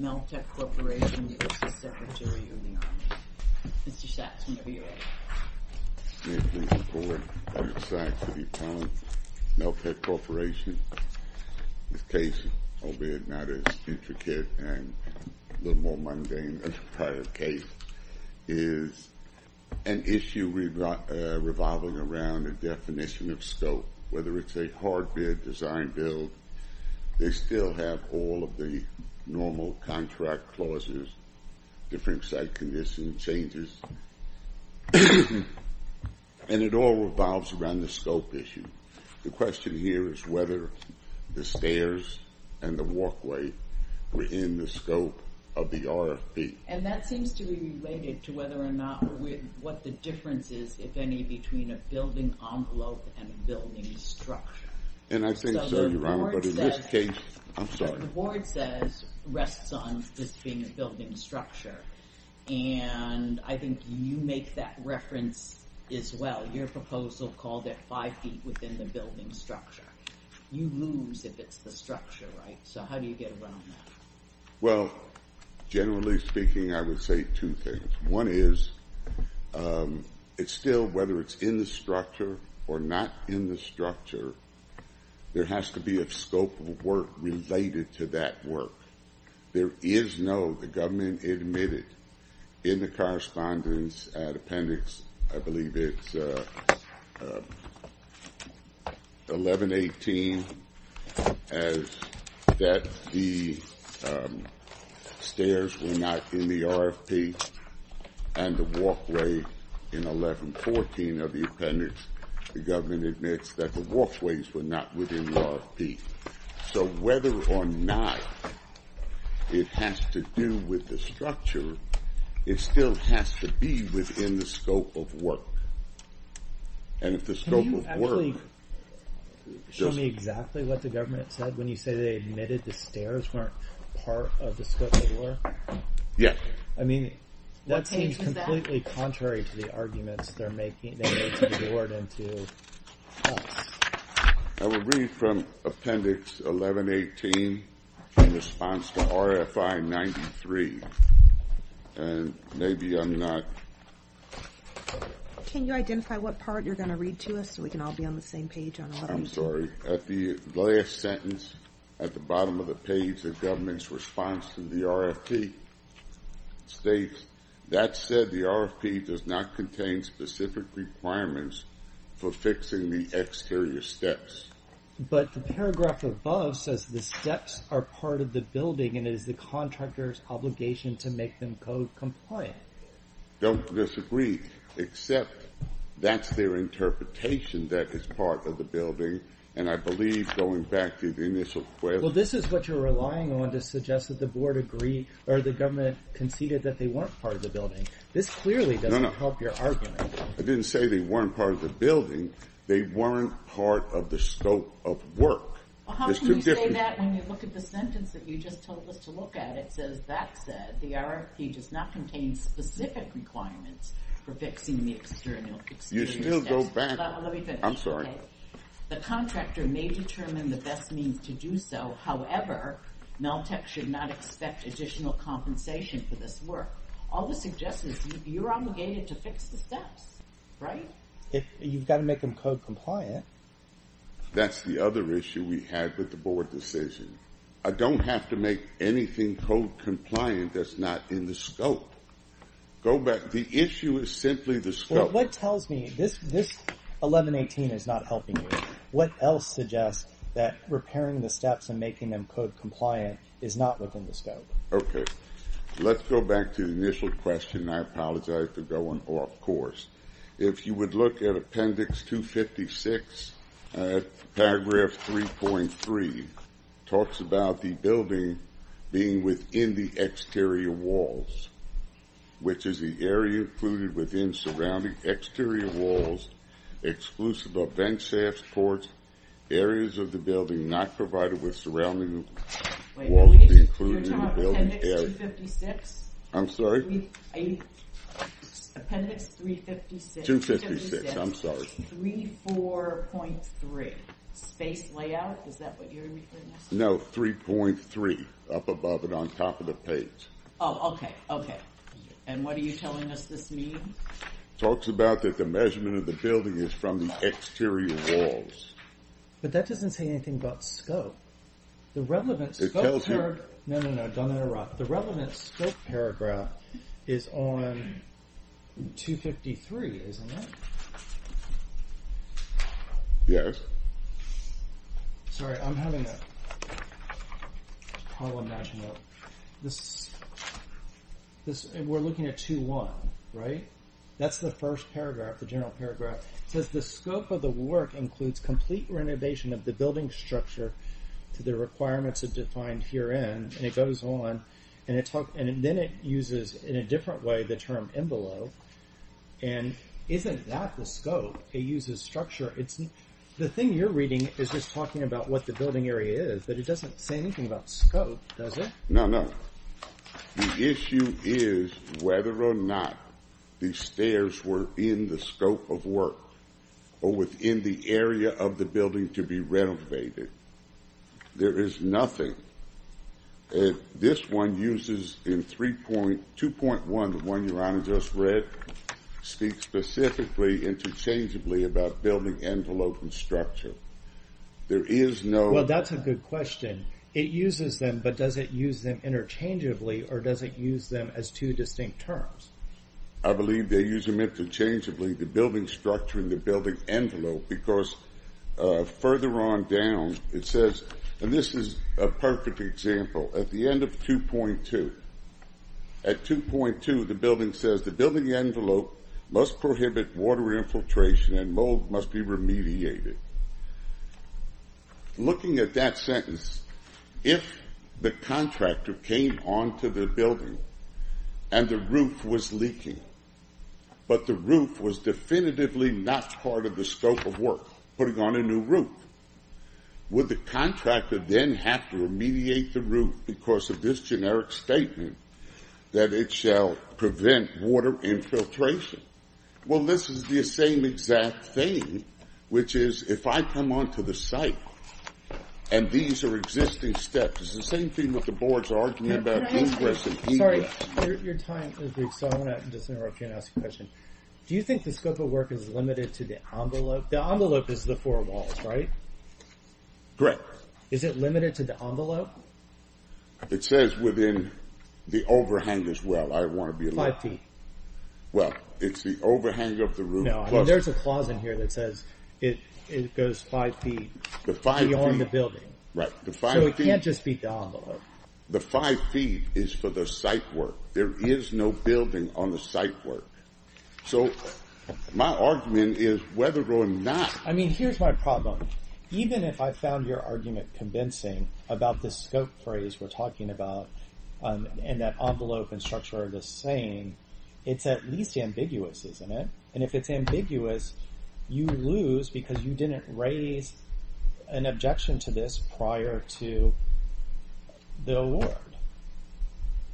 Mr. Sachs, whenever you're ready. May it please the Court, I'm Mr. Sachs of the Appellant, Meltech Corporation. This case, albeit not as intricate and a little more mundane as a prior case, is an issue revolving around a definition of scope, whether it's a hard bid, design build, they still have all of the normal contract clauses, different site conditions, changes, and it all revolves around the scope issue. The question here is whether the stairs and the walkway were in the scope of the RFP. And that seems to be related to whether or not, what the difference is, if any, between a building envelope and a building structure. And I think so, Your Honor, but in this case, I'm sorry. So the board says, rests on this being a building structure, and I think you make that reference as well. Your proposal called it five feet within the building structure. You lose if it's the structure, right? So how do you get around that? Well, generally speaking, I would say two things. One is, it's still, whether it's in the structure or not in the structure, there has to be a scope of work related to that work. There is no, the government admitted in the correspondence appendix, I believe it's 1118, as that the stairs were not in the RFP, and the walkway in 1114 of the appendix, the government admits that the walkways were not within the RFP. So whether or not it has to do with the structure, it still has to be within the scope of work. And if the scope of work... Can you actually show me exactly what the government said when you say they admitted the stairs weren't part of the scope of work? Yes. I mean, that seems completely contrary to the arguments they made to the board and to us. I would read from appendix 1118 in response to RFI 93, and maybe I'm not... Can you identify what part you're going to read to us so we can all be on the same page on 1118? I'm sorry. At the last sentence, at the bottom of the page, the government's response to the RFP states, that said, the RFP does not contain specific requirements for fixing the exterior steps. But the paragraph above says the steps are part of the building and it is the contractor's obligation to make them code compliant. I don't disagree, except that's their interpretation, that it's part of the building. And I believe, going back to the initial... Well, this is what you're relying on to suggest that the board agreed, or the government conceded that they weren't part of the building. This clearly doesn't help your argument. No, no. I didn't say they weren't part of the building. They weren't part of the scope of work. Well, how can you say that when you look at the sentence that you just told us to look at? It says, that said, the RFP does not contain specific requirements for fixing the exterior steps. You still go back... Let me finish. I'm sorry. The contractor may determine the best means to do so. However, Maltek should not expect additional compensation for this work. All the suggestions, you're obligated to fix the steps, right? You've got to make them code compliant. That's the other issue we had with the board decision. I don't have to make anything code compliant that's not in the scope. Go back. The issue is simply the scope. What tells me this 1118 is not helping you? What else suggests that repairing the steps and making them code compliant is not within the scope? Okay. Let's go back to the initial question. I apologize for going off course. If you would look at Appendix 256, Paragraph 3.3, talks about the building being within the exterior walls, which is the area included within surrounding exterior walls, exclusive of vent shafts, ports, areas of the building not provided with surrounding walls included in the building. Wait. You're talking about Appendix 256? I'm sorry? Appendix 356. 256. I'm sorry. 34.3. Space layout? Is that what you're referring to? No. 3.3. Up above it on top of the page. Oh, okay. Okay. And what are you telling us this means? Talks about that the measurement of the building is from the exterior walls. But that doesn't say anything about scope. The relevant scope paragraph. It tells you. No, no, no. Don't interrupt. The relevant scope paragraph is on 253, isn't it? Yes. Sorry, I'm having a problem matching up. We're looking at 2.1, right? That's the first paragraph, the general paragraph. It says the scope of the work includes complete renovation of the building structure to the requirements as defined herein. And it goes on. And then it uses in a different way the term envelope. And isn't that the scope? It uses structure. The thing you're reading is just talking about what the building area is. But it doesn't say anything about scope, does it? No, no. The issue is whether or not the stairs were in the scope of work or within the area of the building to be renovated. There is nothing. This one uses in 2.1, the one Your Honor just read, speaks specifically interchangeably about building envelope and structure. There is no- Well, that's a good question. It uses them, but does it use them interchangeably or does it use them as two distinct terms? I believe they use them interchangeably, the building structure and the building envelope, because further on down it says, and this is a perfect example, at the end of 2.2. At 2.2, the building says the building envelope must prohibit water infiltration and mold must be remediated. Looking at that sentence, if the contractor came onto the building and the roof was leaking, but the roof was definitively not part of the scope of work, putting on a new roof, would the contractor then have to remediate the roof because of this generic statement that it shall prevent water infiltration? Well, this is the same exact thing, which is if I come onto the site and these are existing steps, it's the same thing with the boards arguing about ingress and egress. Your time is due, so I want to just interrupt you and ask a question. Do you think the scope of work is limited to the envelope? The envelope is the four walls, right? Correct. Is it limited to the envelope? It says within the overhang as well. Five feet. Well, it's the overhang of the roof. No, there's a clause in here that says it goes five feet beyond the building. Right. So it can't just be the envelope. The five feet is for the site work. There is no building on the site work. So my argument is whether or not— I mean, here's my problem. Even if I found your argument convincing about the scope phrase we're talking about and that envelope and structure are the same, it's at least ambiguous, isn't it? And if it's ambiguous, you lose because you didn't raise an objection to this prior to the award.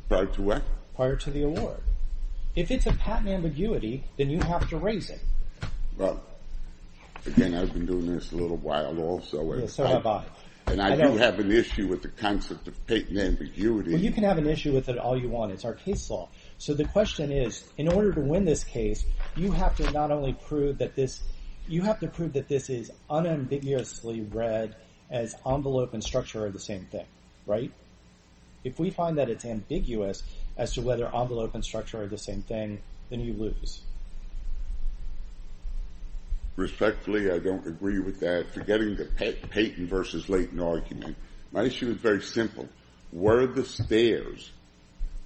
Prior to what? Prior to the award. If it's a patent ambiguity, then you have to raise it. Well, again, I've been doing this a little while also. So have I. And I do have an issue with the concept of patent ambiguity. Well, you can have an issue with it all you want. It's our case law. So the question is, in order to win this case, you have to not only prove that this— you have to prove that this is unambiguously read as envelope and structure are the same thing, right? If we find that it's ambiguous as to whether envelope and structure are the same thing, then you lose. Respectfully, I don't agree with that. Forgetting the patent versus latent argument, my issue is very simple. Where are the stairs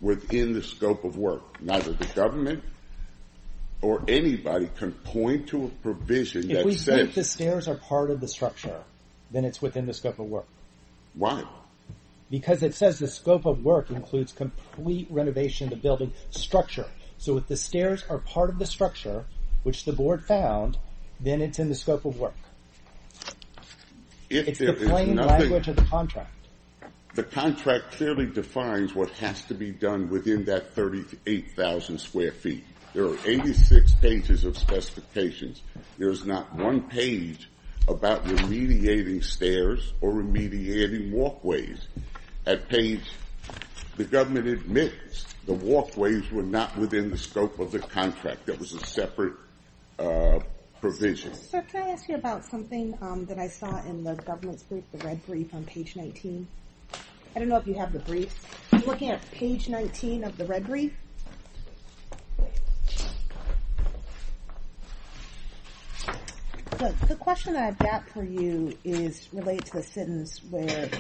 within the scope of work? Neither the government or anybody can point to a provision that says— If we think the stairs are part of the structure, then it's within the scope of work. Why? Because it says the scope of work includes complete renovation of the building structure. So if the stairs are part of the structure, which the board found, then it's in the scope of work. If there is nothing— It's the plain language of the contract. The contract clearly defines what has to be done within that 38,000 square feet. There are 86 pages of specifications. There is not one page about remediating stairs or remediating walkways. At page—the government admits the walkways were not within the scope of the contract. That was a separate provision. Sir, can I ask you about something that I saw in the government's brief, the red brief on page 19? I don't know if you have the brief. I'm looking at page 19 of the red brief. The question that I've got for you is related to the sentence where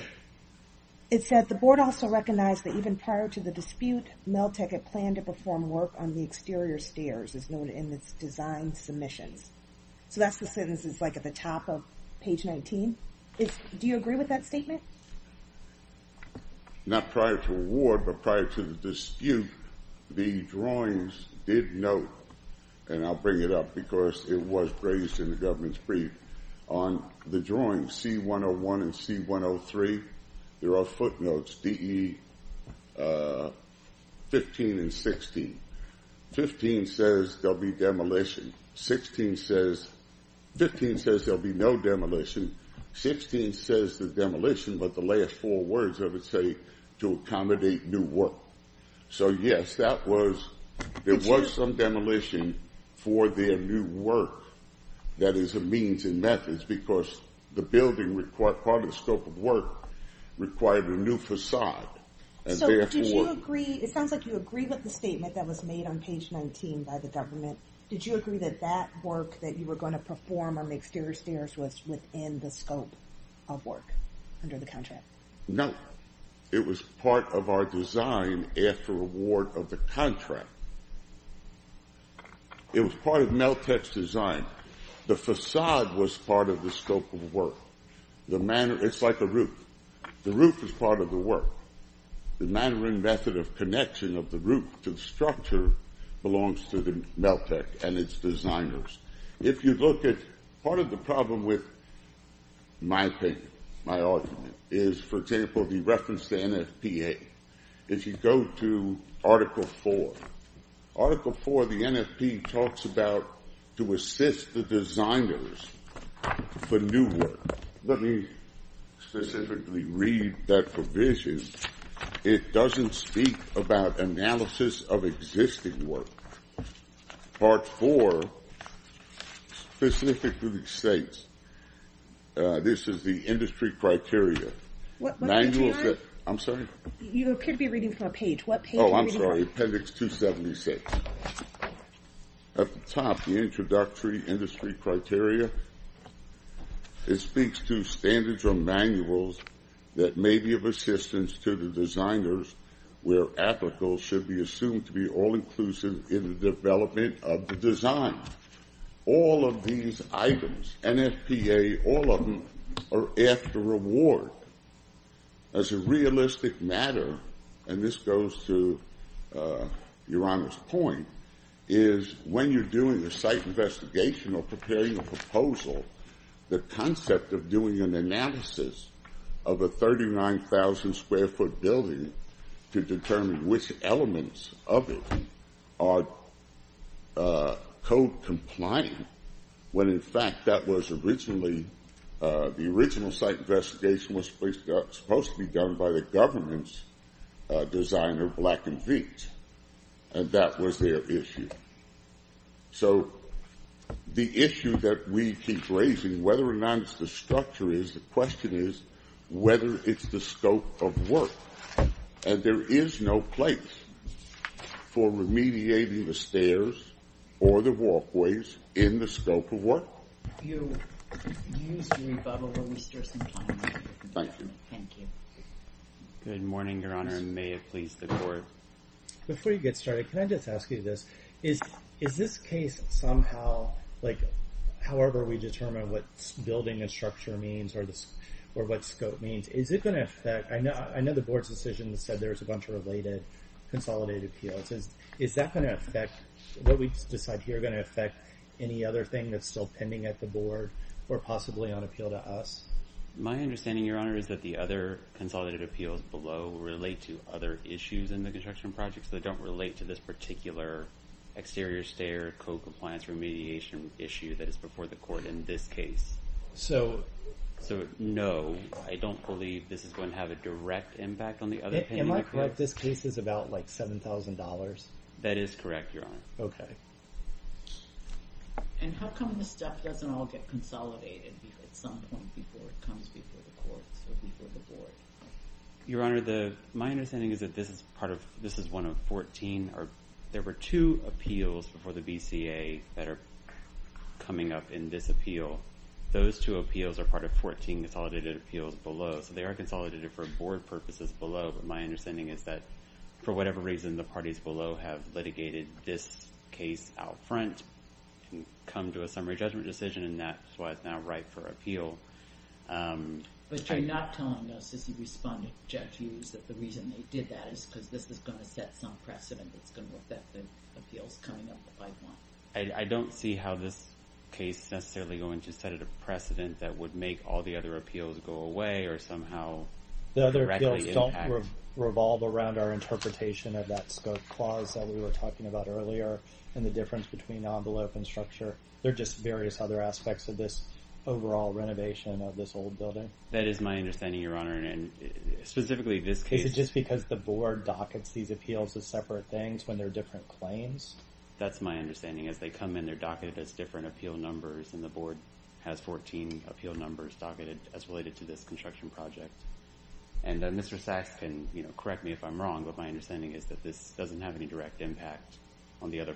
it said, the board also recognized that even prior to the dispute, Meltec had planned to perform work on the exterior stairs as noted in its design submissions. So that's the sentence that's like at the top of page 19. Do you agree with that statement? Not prior to award, but prior to the dispute, the drawings did note— and I'll bring it up because it was raised in the government's brief. On the drawings, C-101 and C-103, there are footnotes, DE 15 and 16. 15 says there'll be demolition. 16 says—15 says there'll be no demolition. 16 says the demolition, but the last four words of it say to accommodate new work. So yes, there was some demolition for their new work that is a means and methods because the building required—part of the scope of work required a new facade. So did you agree—it sounds like you agree with the statement that was made on page 19 by the government. Did you agree that that work that you were going to perform on the exterior stairs was within the scope of work under the contract? No. It was part of our design after award of the contract. It was part of Meltek's design. The facade was part of the scope of work. It's like a roof. The roof is part of the work. The manner and method of connection of the roof to the structure belongs to Meltek and its designers. If you look at—part of the problem with my argument is, for example, the reference to NFPA. If you go to Article 4, Article 4 of the NFP talks about to assist the designers for new work. Let me specifically read that provision. It doesn't speak about analysis of existing work. Part 4 specifically states this is the industry criteria. What page are you on? I'm sorry? You appear to be reading from a page. What page are you reading from? Oh, I'm sorry. Appendix 276. At the top, the introductory industry criteria, it speaks to standards or manuals that may be of assistance to the designers where applicable should be assumed to be all-inclusive in the development of the design. All of these items, NFPA, all of them are after award. As a realistic matter, and this goes to Your Honor's point, is when you're doing a site investigation or preparing a proposal, the concept of doing an analysis of a 39,000-square-foot building to determine which elements of it are code compliant, when, in fact, that was originally—the original site investigation was supposed to be done by the government's designer, Black & Veatch. And that was their issue. So the issue that we keep raising, whether or not it's the structure is, the question is whether it's the scope of work. And there is no place for remediating the stairs or the walkways in the scope of work. You used Rebubble. Will you stir some time? Thank you. Thank you. Good morning, Your Honor, and may it please the Court. Before you get started, can I just ask you this? Is this case somehow, like, however we determine what building and structure means or what scope means, is it going to affect—I know the Board's decision said there was a bunch of related consolidated appeals. Is that going to affect what we decide here going to affect any other thing that's still pending at the Board or possibly on appeal to us? My understanding, Your Honor, is that the other consolidated appeals below relate to other issues in the construction project, so they don't relate to this particular exterior stair co-compliance remediation issue that is before the Court in this case. So— So, no, I don't believe this is going to have a direct impact on the other pending— Am I correct? This case is about, like, $7,000? That is correct, Your Honor. Okay. And how come this stuff doesn't all get consolidated at some point before it comes before the Courts or before the Board? Your Honor, my understanding is that this is part of—this is one of 14. There were two appeals before the BCA that are coming up in this appeal. Those two appeals are part of 14 consolidated appeals below, so they are consolidated for Board purposes below, but my understanding is that, for whatever reason, the parties below have litigated this case out front and come to a summary judgment decision, and that's why it's now ripe for appeal. But you're not telling us, as you respond to Jeff Hughes, that the reason they did that is because this is going to set some precedent that's going to affect the appeals coming up the pipeline? I don't see how this case is necessarily going to set a precedent that would make all the other appeals go away or somehow directly impact— The other appeals don't revolve around our interpretation of that scope clause that we were talking about earlier and the difference between envelope and structure. They're just various other aspects of this overall renovation of this old building. That is my understanding, Your Honor, and specifically this case— Is it just because the Board dockets these appeals as separate things when they're different claims? That's my understanding, is they come in, they're docketed as different appeal numbers, and the Board has 14 appeal numbers docketed as related to this construction project. And Mr. Sachs can correct me if I'm wrong, but my understanding is that this doesn't have any direct impact on the other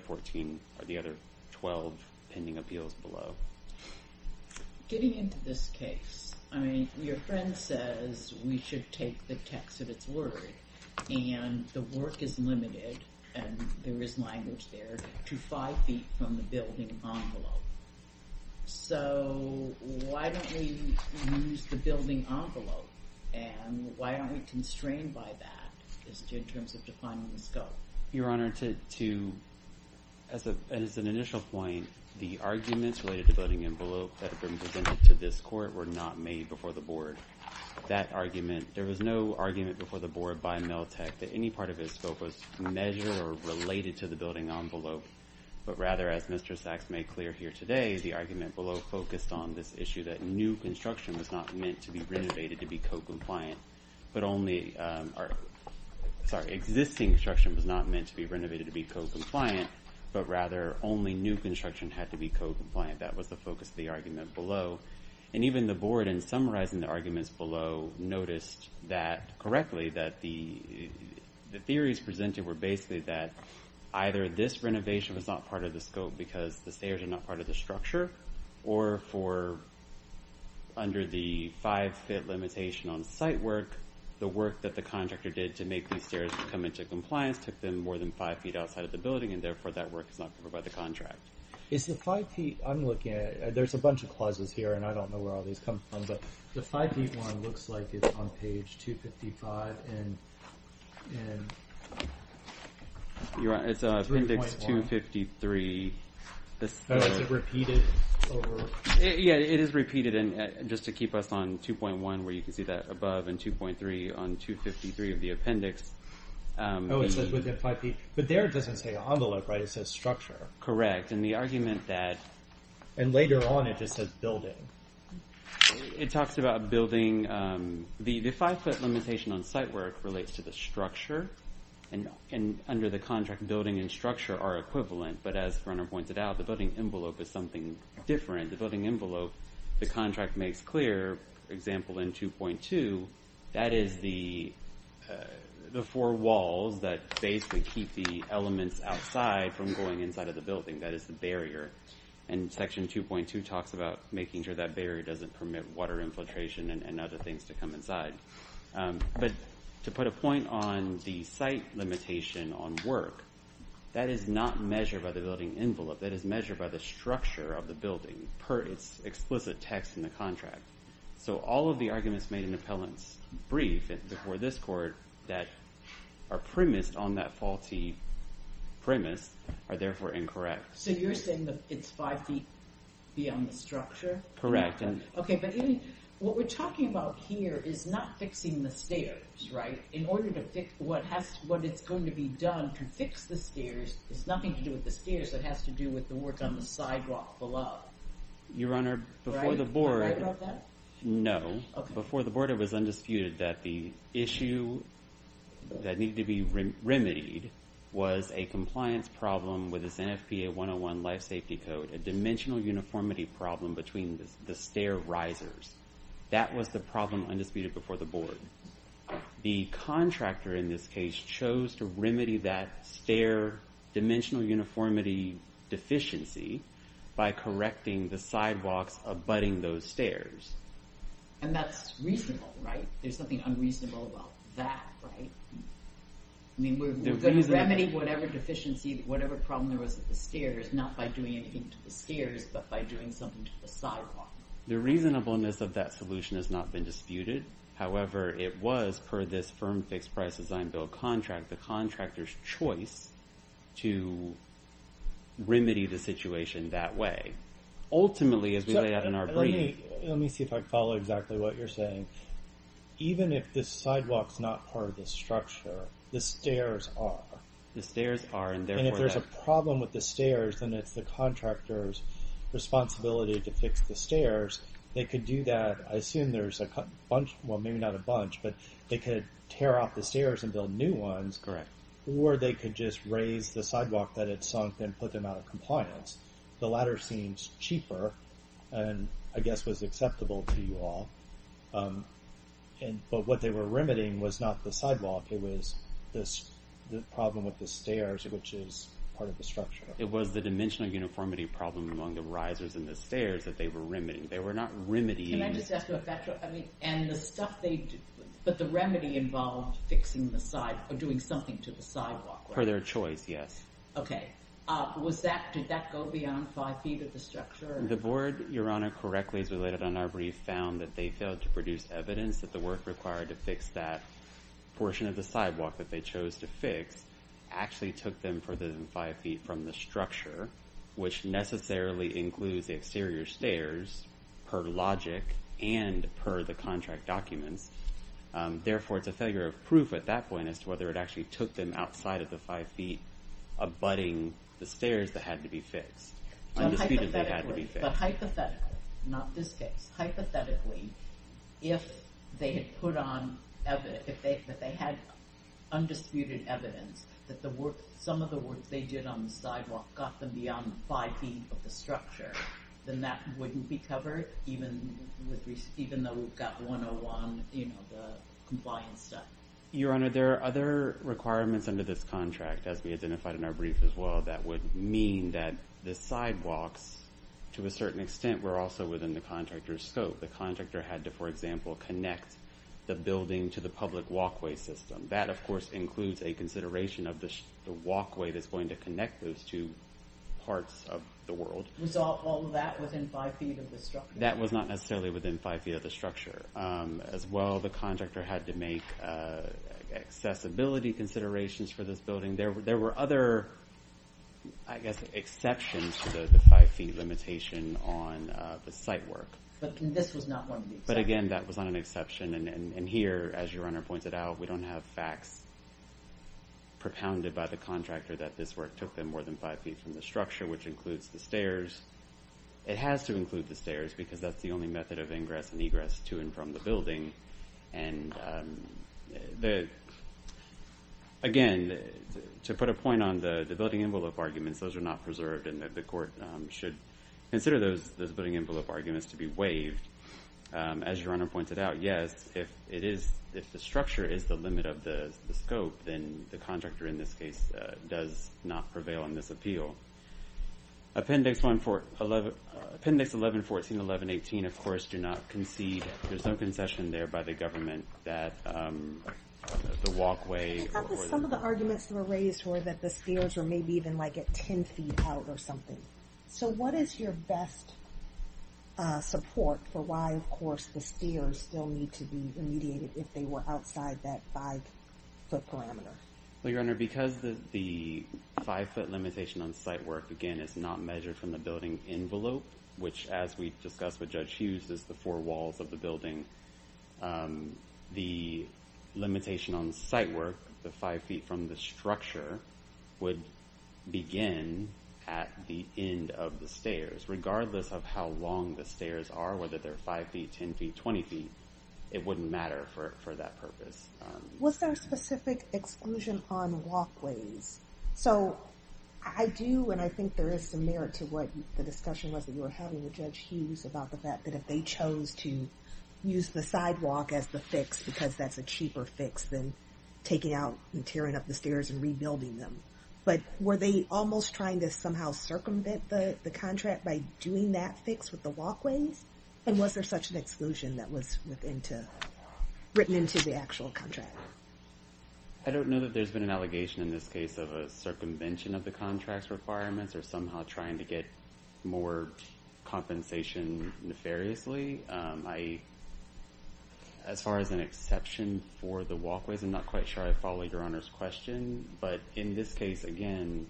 12 pending appeals below. Getting into this case, I mean, your friend says we should take the text of its word, and the work is limited, and there is language there, to five feet from the building envelope. So why don't we use the building envelope, and why aren't we constrained by that in terms of defining the scope? Your Honor, to—as an initial point, the arguments related to building envelope that have been presented to this Court were not made before the Board. That argument—there was no argument before the Board by Meltek that any part of his scope was measured or related to the building envelope, but rather, as Mr. Sachs made clear here today, the argument below focused on this issue that new construction was not meant to be renovated to be co-compliant, but only—sorry, existing construction was not meant to be renovated to be co-compliant, but rather only new construction had to be co-compliant. That was the focus of the argument below. And even the Board, in summarizing the arguments below, noticed that—correctly, that the theories presented were basically that either this renovation was not part of the scope because the stairs are not part of the structure, or for—under the five-feet limitation on site work, the work that the contractor did to make these stairs come into compliance took them more than five feet outside of the building, and therefore that work is not covered by the contract. Is the five-feet—I'm looking at—there's a bunch of clauses here, and I don't know where all these come from, but the five-feet one looks like it's on page 255 in— It's Appendix 253. Oh, is it repeated? Yeah, it is repeated, and just to keep us on 2.1, where you can see that above, and 2.3 on 253 of the appendix. Oh, it says within five feet—but there it doesn't say envelope, right? It says structure. Correct, and the argument that— And later on, it just says building. It talks about building—the five-foot limitation on site work relates to the structure, and under the contract, building and structure are equivalent, but as Runner pointed out, the building envelope is something different. The building envelope, the contract makes clear, for example, in 2.2, that is the four walls that basically keep the elements outside from going inside of the building. That is the barrier, and Section 2.2 talks about making sure that barrier doesn't permit water infiltration and other things to come inside, but to put a point on the site limitation on work, that is not measured by the building envelope. That is measured by the structure of the building per its explicit text in the contract, so all of the arguments made in Appellant's brief before this Court that are premised on that faulty premise are therefore incorrect. So you're saying that it's five feet beyond the structure? Correct. Okay, but what we're talking about here is not fixing the stairs, right? In order to fix—what it's going to be done to fix the stairs has nothing to do with the stairs. It has to do with the work on the sidewalk below. Your Honor, before the Board— Right about that? No. Okay. Before the Board, it was undisputed that the issue that needed to be remedied was a compliance problem with this NFPA 101 Life Safety Code, a dimensional uniformity problem between the stair risers. That was the problem undisputed before the Board. The contractor in this case chose to remedy that stair dimensional uniformity deficiency by correcting the sidewalks abutting those stairs. And that's reasonable, right? There's something unreasonable about that, right? I mean, we're going to remedy whatever deficiency, whatever problem there was at the stairs, not by doing anything to the stairs, but by doing something to the sidewalk. The reasonableness of that solution has not been disputed. However, it was, per this Firm Fixed Price Design Bill contract, the contractor's choice to remedy the situation that way. Ultimately, as we lay out in our brief— Let me see if I follow exactly what you're saying. Even if the sidewalk's not part of the structure, the stairs are. The stairs are, and therefore— And if there's a problem with the stairs, then it's the contractor's responsibility to fix the stairs. They could do that. I assume there's a bunch—well, maybe not a bunch, but they could tear out the stairs and build new ones. Correct. Or they could just raise the sidewalk that had sunk and put them out of compliance. The latter seems cheaper and, I guess, was acceptable to you all. But what they were remedying was not the sidewalk. It was the problem with the stairs, which is part of the structure. It was the dimensional uniformity problem among the risers and the stairs that they were remedying. They were not remedying— But the remedy involved doing something to the sidewalk, right? Per their choice, yes. Okay. Did that go beyond five feet of the structure? The board, Your Honor, correctly as related on our brief, found that they failed to produce evidence that the work required to fix that portion of the sidewalk that they chose to fix actually took them further than five feet from the structure, which necessarily includes the exterior stairs per logic and per the contract documents. Therefore, it's a failure of proof at that point as to whether it actually took them outside of the five feet abutting the stairs that had to be fixed. Undisputedly had to be fixed. But hypothetically—not this case—hypothetically, if they had undisputed evidence that some of the work they did on the sidewalk got them beyond five feet of the structure, then that wouldn't be covered even though we've got 101 compliance stuff. Your Honor, there are other requirements under this contract, as we identified in our brief as well, that would mean that the sidewalks, to a certain extent, were also within the contractor's scope. The contractor had to, for example, connect the building to the public walkway system. That, of course, includes a consideration of the walkway that's going to connect those two parts of the world. Was all of that within five feet of the structure? That was not necessarily within five feet of the structure. As well, the contractor had to make accessibility considerations for this building. There were other, I guess, exceptions to the five feet limitation on the site work. But this was not one of the exceptions? But again, that was not an exception. And here, as Your Honor pointed out, we don't have facts propounded by the contractor that this work took them more than five feet from the structure, which includes the stairs. It has to include the stairs, because that's the only method of ingress and egress to and from the building. And again, to put a point on the building envelope arguments, those are not preserved, and the court should consider those building envelope arguments to be waived. As Your Honor pointed out, yes, if the structure is the limit of the scope, then the contractor in this case does not prevail on this appeal. Appendix 11-14-11-18, of course, do not concede. There's no concession there by the government that the walkway or the- Some of the arguments that were raised were that the stairs were maybe even like at 10 feet out or something. So what is your best support for why, of course, the stairs still need to be remediated if they were outside that five-foot parameter? Well, Your Honor, because the five-foot limitation on site work, again, is not measured from the building envelope, which, as we discussed with Judge Hughes, is the four walls of the building, the limitation on site work, the five feet from the structure, would begin at the end of the stairs. Regardless of how long the stairs are, whether they're five feet, 10 feet, 20 feet, it wouldn't matter for that purpose. Was there a specific exclusion on walkways? So I do, and I think there is some merit to what the discussion was that you were having with Judge Hughes about the fact that if they chose to use the sidewalk as the fix because that's a cheaper fix than taking out and tearing up the stairs and rebuilding them. But were they almost trying to somehow circumvent the contract by doing that fix with the walkways? And was there such an exclusion that was written into the actual contract? I don't know that there's been an allegation in this case of a circumvention of the contract's requirements or somehow trying to get more compensation nefariously. As far as an exception for the walkways, I'm not quite sure I follow Your Honor's question. But in this case, again,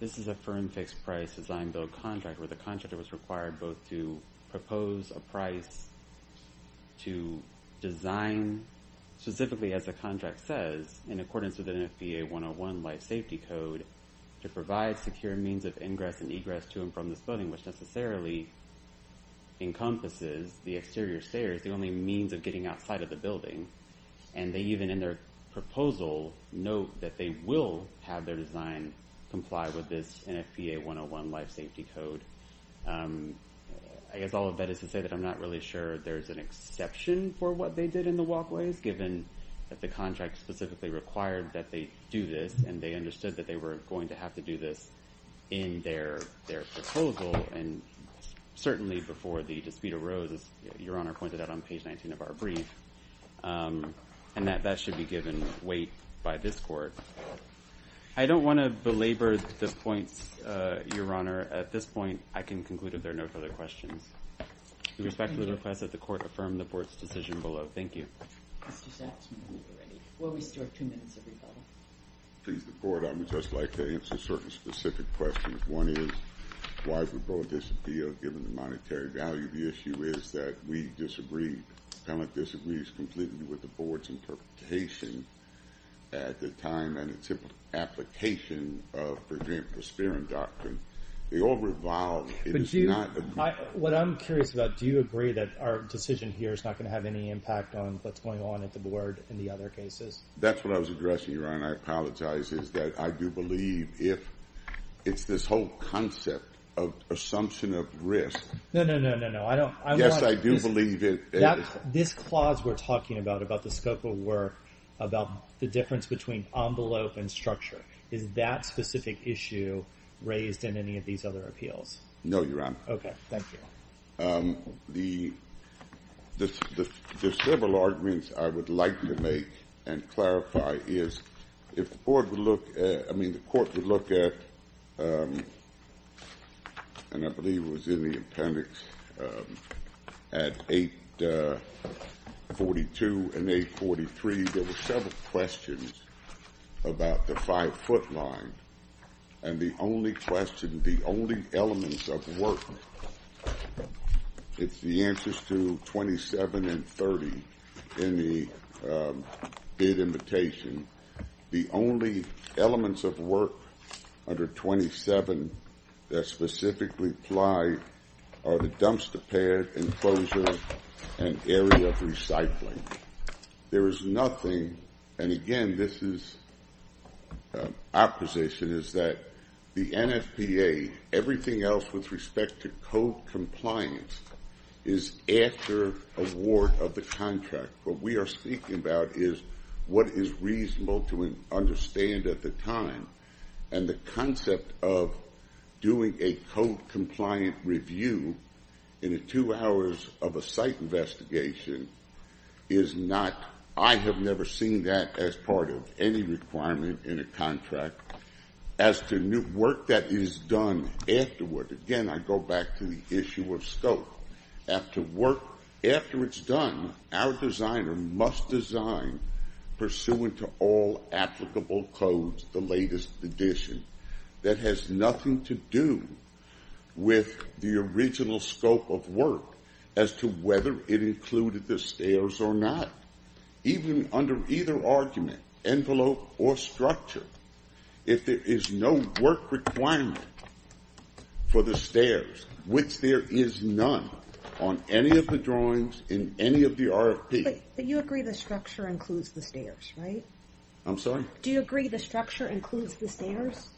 this is a firm fixed-price design-build contract where the contractor was required both to propose a price to design, specifically as the contract says, in accordance with the NFPA 101 Life Safety Code, to provide secure means of ingress and egress to and from this building, which necessarily encompasses the exterior stairs, the only means of getting outside of the building. And they even in their proposal note that they will have their design comply with this NFPA 101 Life Safety Code. I guess all of that is to say that I'm not really sure there's an exception for what they did in the walkways, given that the contract specifically required that they do this, and they understood that they were going to have to do this in their proposal. And certainly before the dispute arose, as Your Honor pointed out on page 19 of our brief, and that that should be given weight by this court. I don't want to belabor the points, Your Honor. At this point, I can conclude that there are no further questions. With respect to the request that the court affirm the court's decision below. Thank you. Mr. Satzman, are we ready? Well, we still have two minutes of rebuttal. Please, the Court. I would just like to answer certain specific questions. One is why would both disappeal, given the monetary value of the issue? The other issue is that we disagree. Appellant disagrees completely with the Board's interpretation at the time and its application of the Spearing Doctrine. They all revolve. What I'm curious about, do you agree that our decision here is not going to have any impact on what's going on at the Board in the other cases? That's what I was addressing, Your Honor. I apologize. I do believe if it's this whole concept of assumption of risk. No, no, no, no, no. Yes, I do believe it. This clause we're talking about, about the scope of work, about the difference between envelope and structure, is that specific issue raised in any of these other appeals? No, Your Honor. Okay, thank you. The several arguments I would like to make and clarify is if the Court would look at, and I believe it was in the appendix, at 842 and 843, there were several questions about the five-foot line, and the only question, the only elements of work, it's the answers to 27 and 30 in the bid invitation, the only elements of work under 27 that specifically apply are the dumpster pad, enclosures, and area of recycling. There is nothing, and again, this is our position, is that the NFPA, everything else with respect to code compliance, is after award of the contract. What we are speaking about is what is reasonable to understand at the time, and the concept of doing a code-compliant review in the two hours of a site investigation is not, I have never seen that as part of any requirement in a contract. As to work that is done afterward, again, I go back to the issue of scope. After it's done, our designer must design, pursuant to all applicable codes, the latest edition, that has nothing to do with the original scope of work as to whether it included the stairs or not. Even under either argument, envelope or structure, if there is no work requirement for the stairs, which there is none on any of the drawings in any of the RFP. But you agree the structure includes the stairs, right? I'm sorry? Do you agree the structure includes the stairs?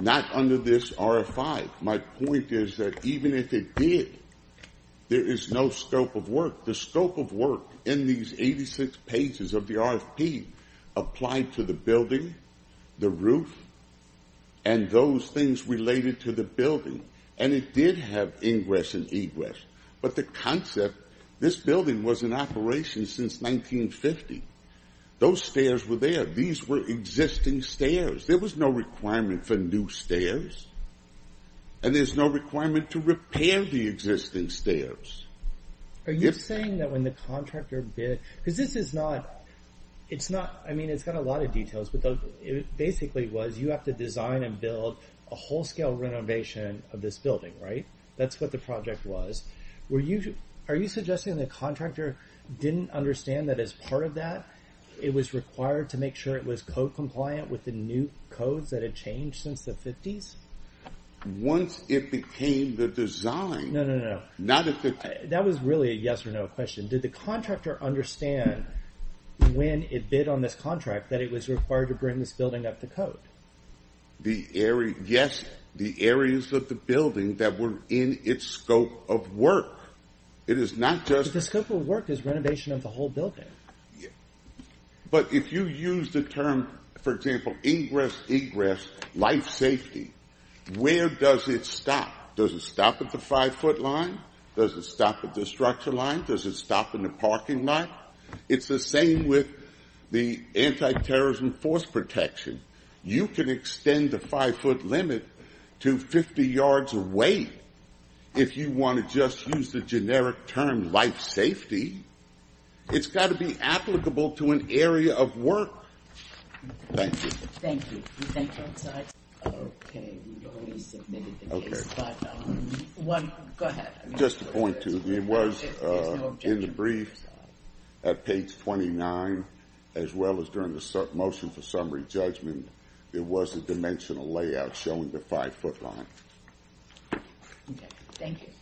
Not under this RFI. My point is that even if it did, there is no scope of work. The scope of work in these 86 pages of the RFP applied to the building, the roof, and those things related to the building. And it did have ingress and egress. But the concept, this building was in operation since 1950. Those stairs were there. These were existing stairs. There was no requirement for new stairs. And there's no requirement to repair the existing stairs. Are you saying that when the contractor bid, because this is not, it's not, I mean, it's got a lot of details, but it basically was you have to design and build a whole scale renovation of this building, right? That's what the project was. Are you suggesting the contractor didn't understand that as part of that it was required to make sure it was code compliant with the new codes that had changed since the 50s? Once it became the design. No, no, no. That was really a yes or no question. Did the contractor understand when it bid on this contract that it was required to bring this building up to code? Yes, the areas of the building that were in its scope of work. The scope of work is renovation of the whole building. But if you use the term, for example, ingress, egress, life safety, where does it stop? Does it stop at the five-foot line? Does it stop at the structure line? Does it stop in the parking lot? It's the same with the anti-terrorism force protection. You can extend the five-foot limit to 50 yards of weight if you want to just use the generic term life safety. It's got to be applicable to an area of work. Thank you. Thank you. Okay, we've already submitted the case. Go ahead. Just to point to, it was in the brief at page 29, as well as during the motion for summary judgment, it was a dimensional layout showing the five-foot line. Okay, thank you.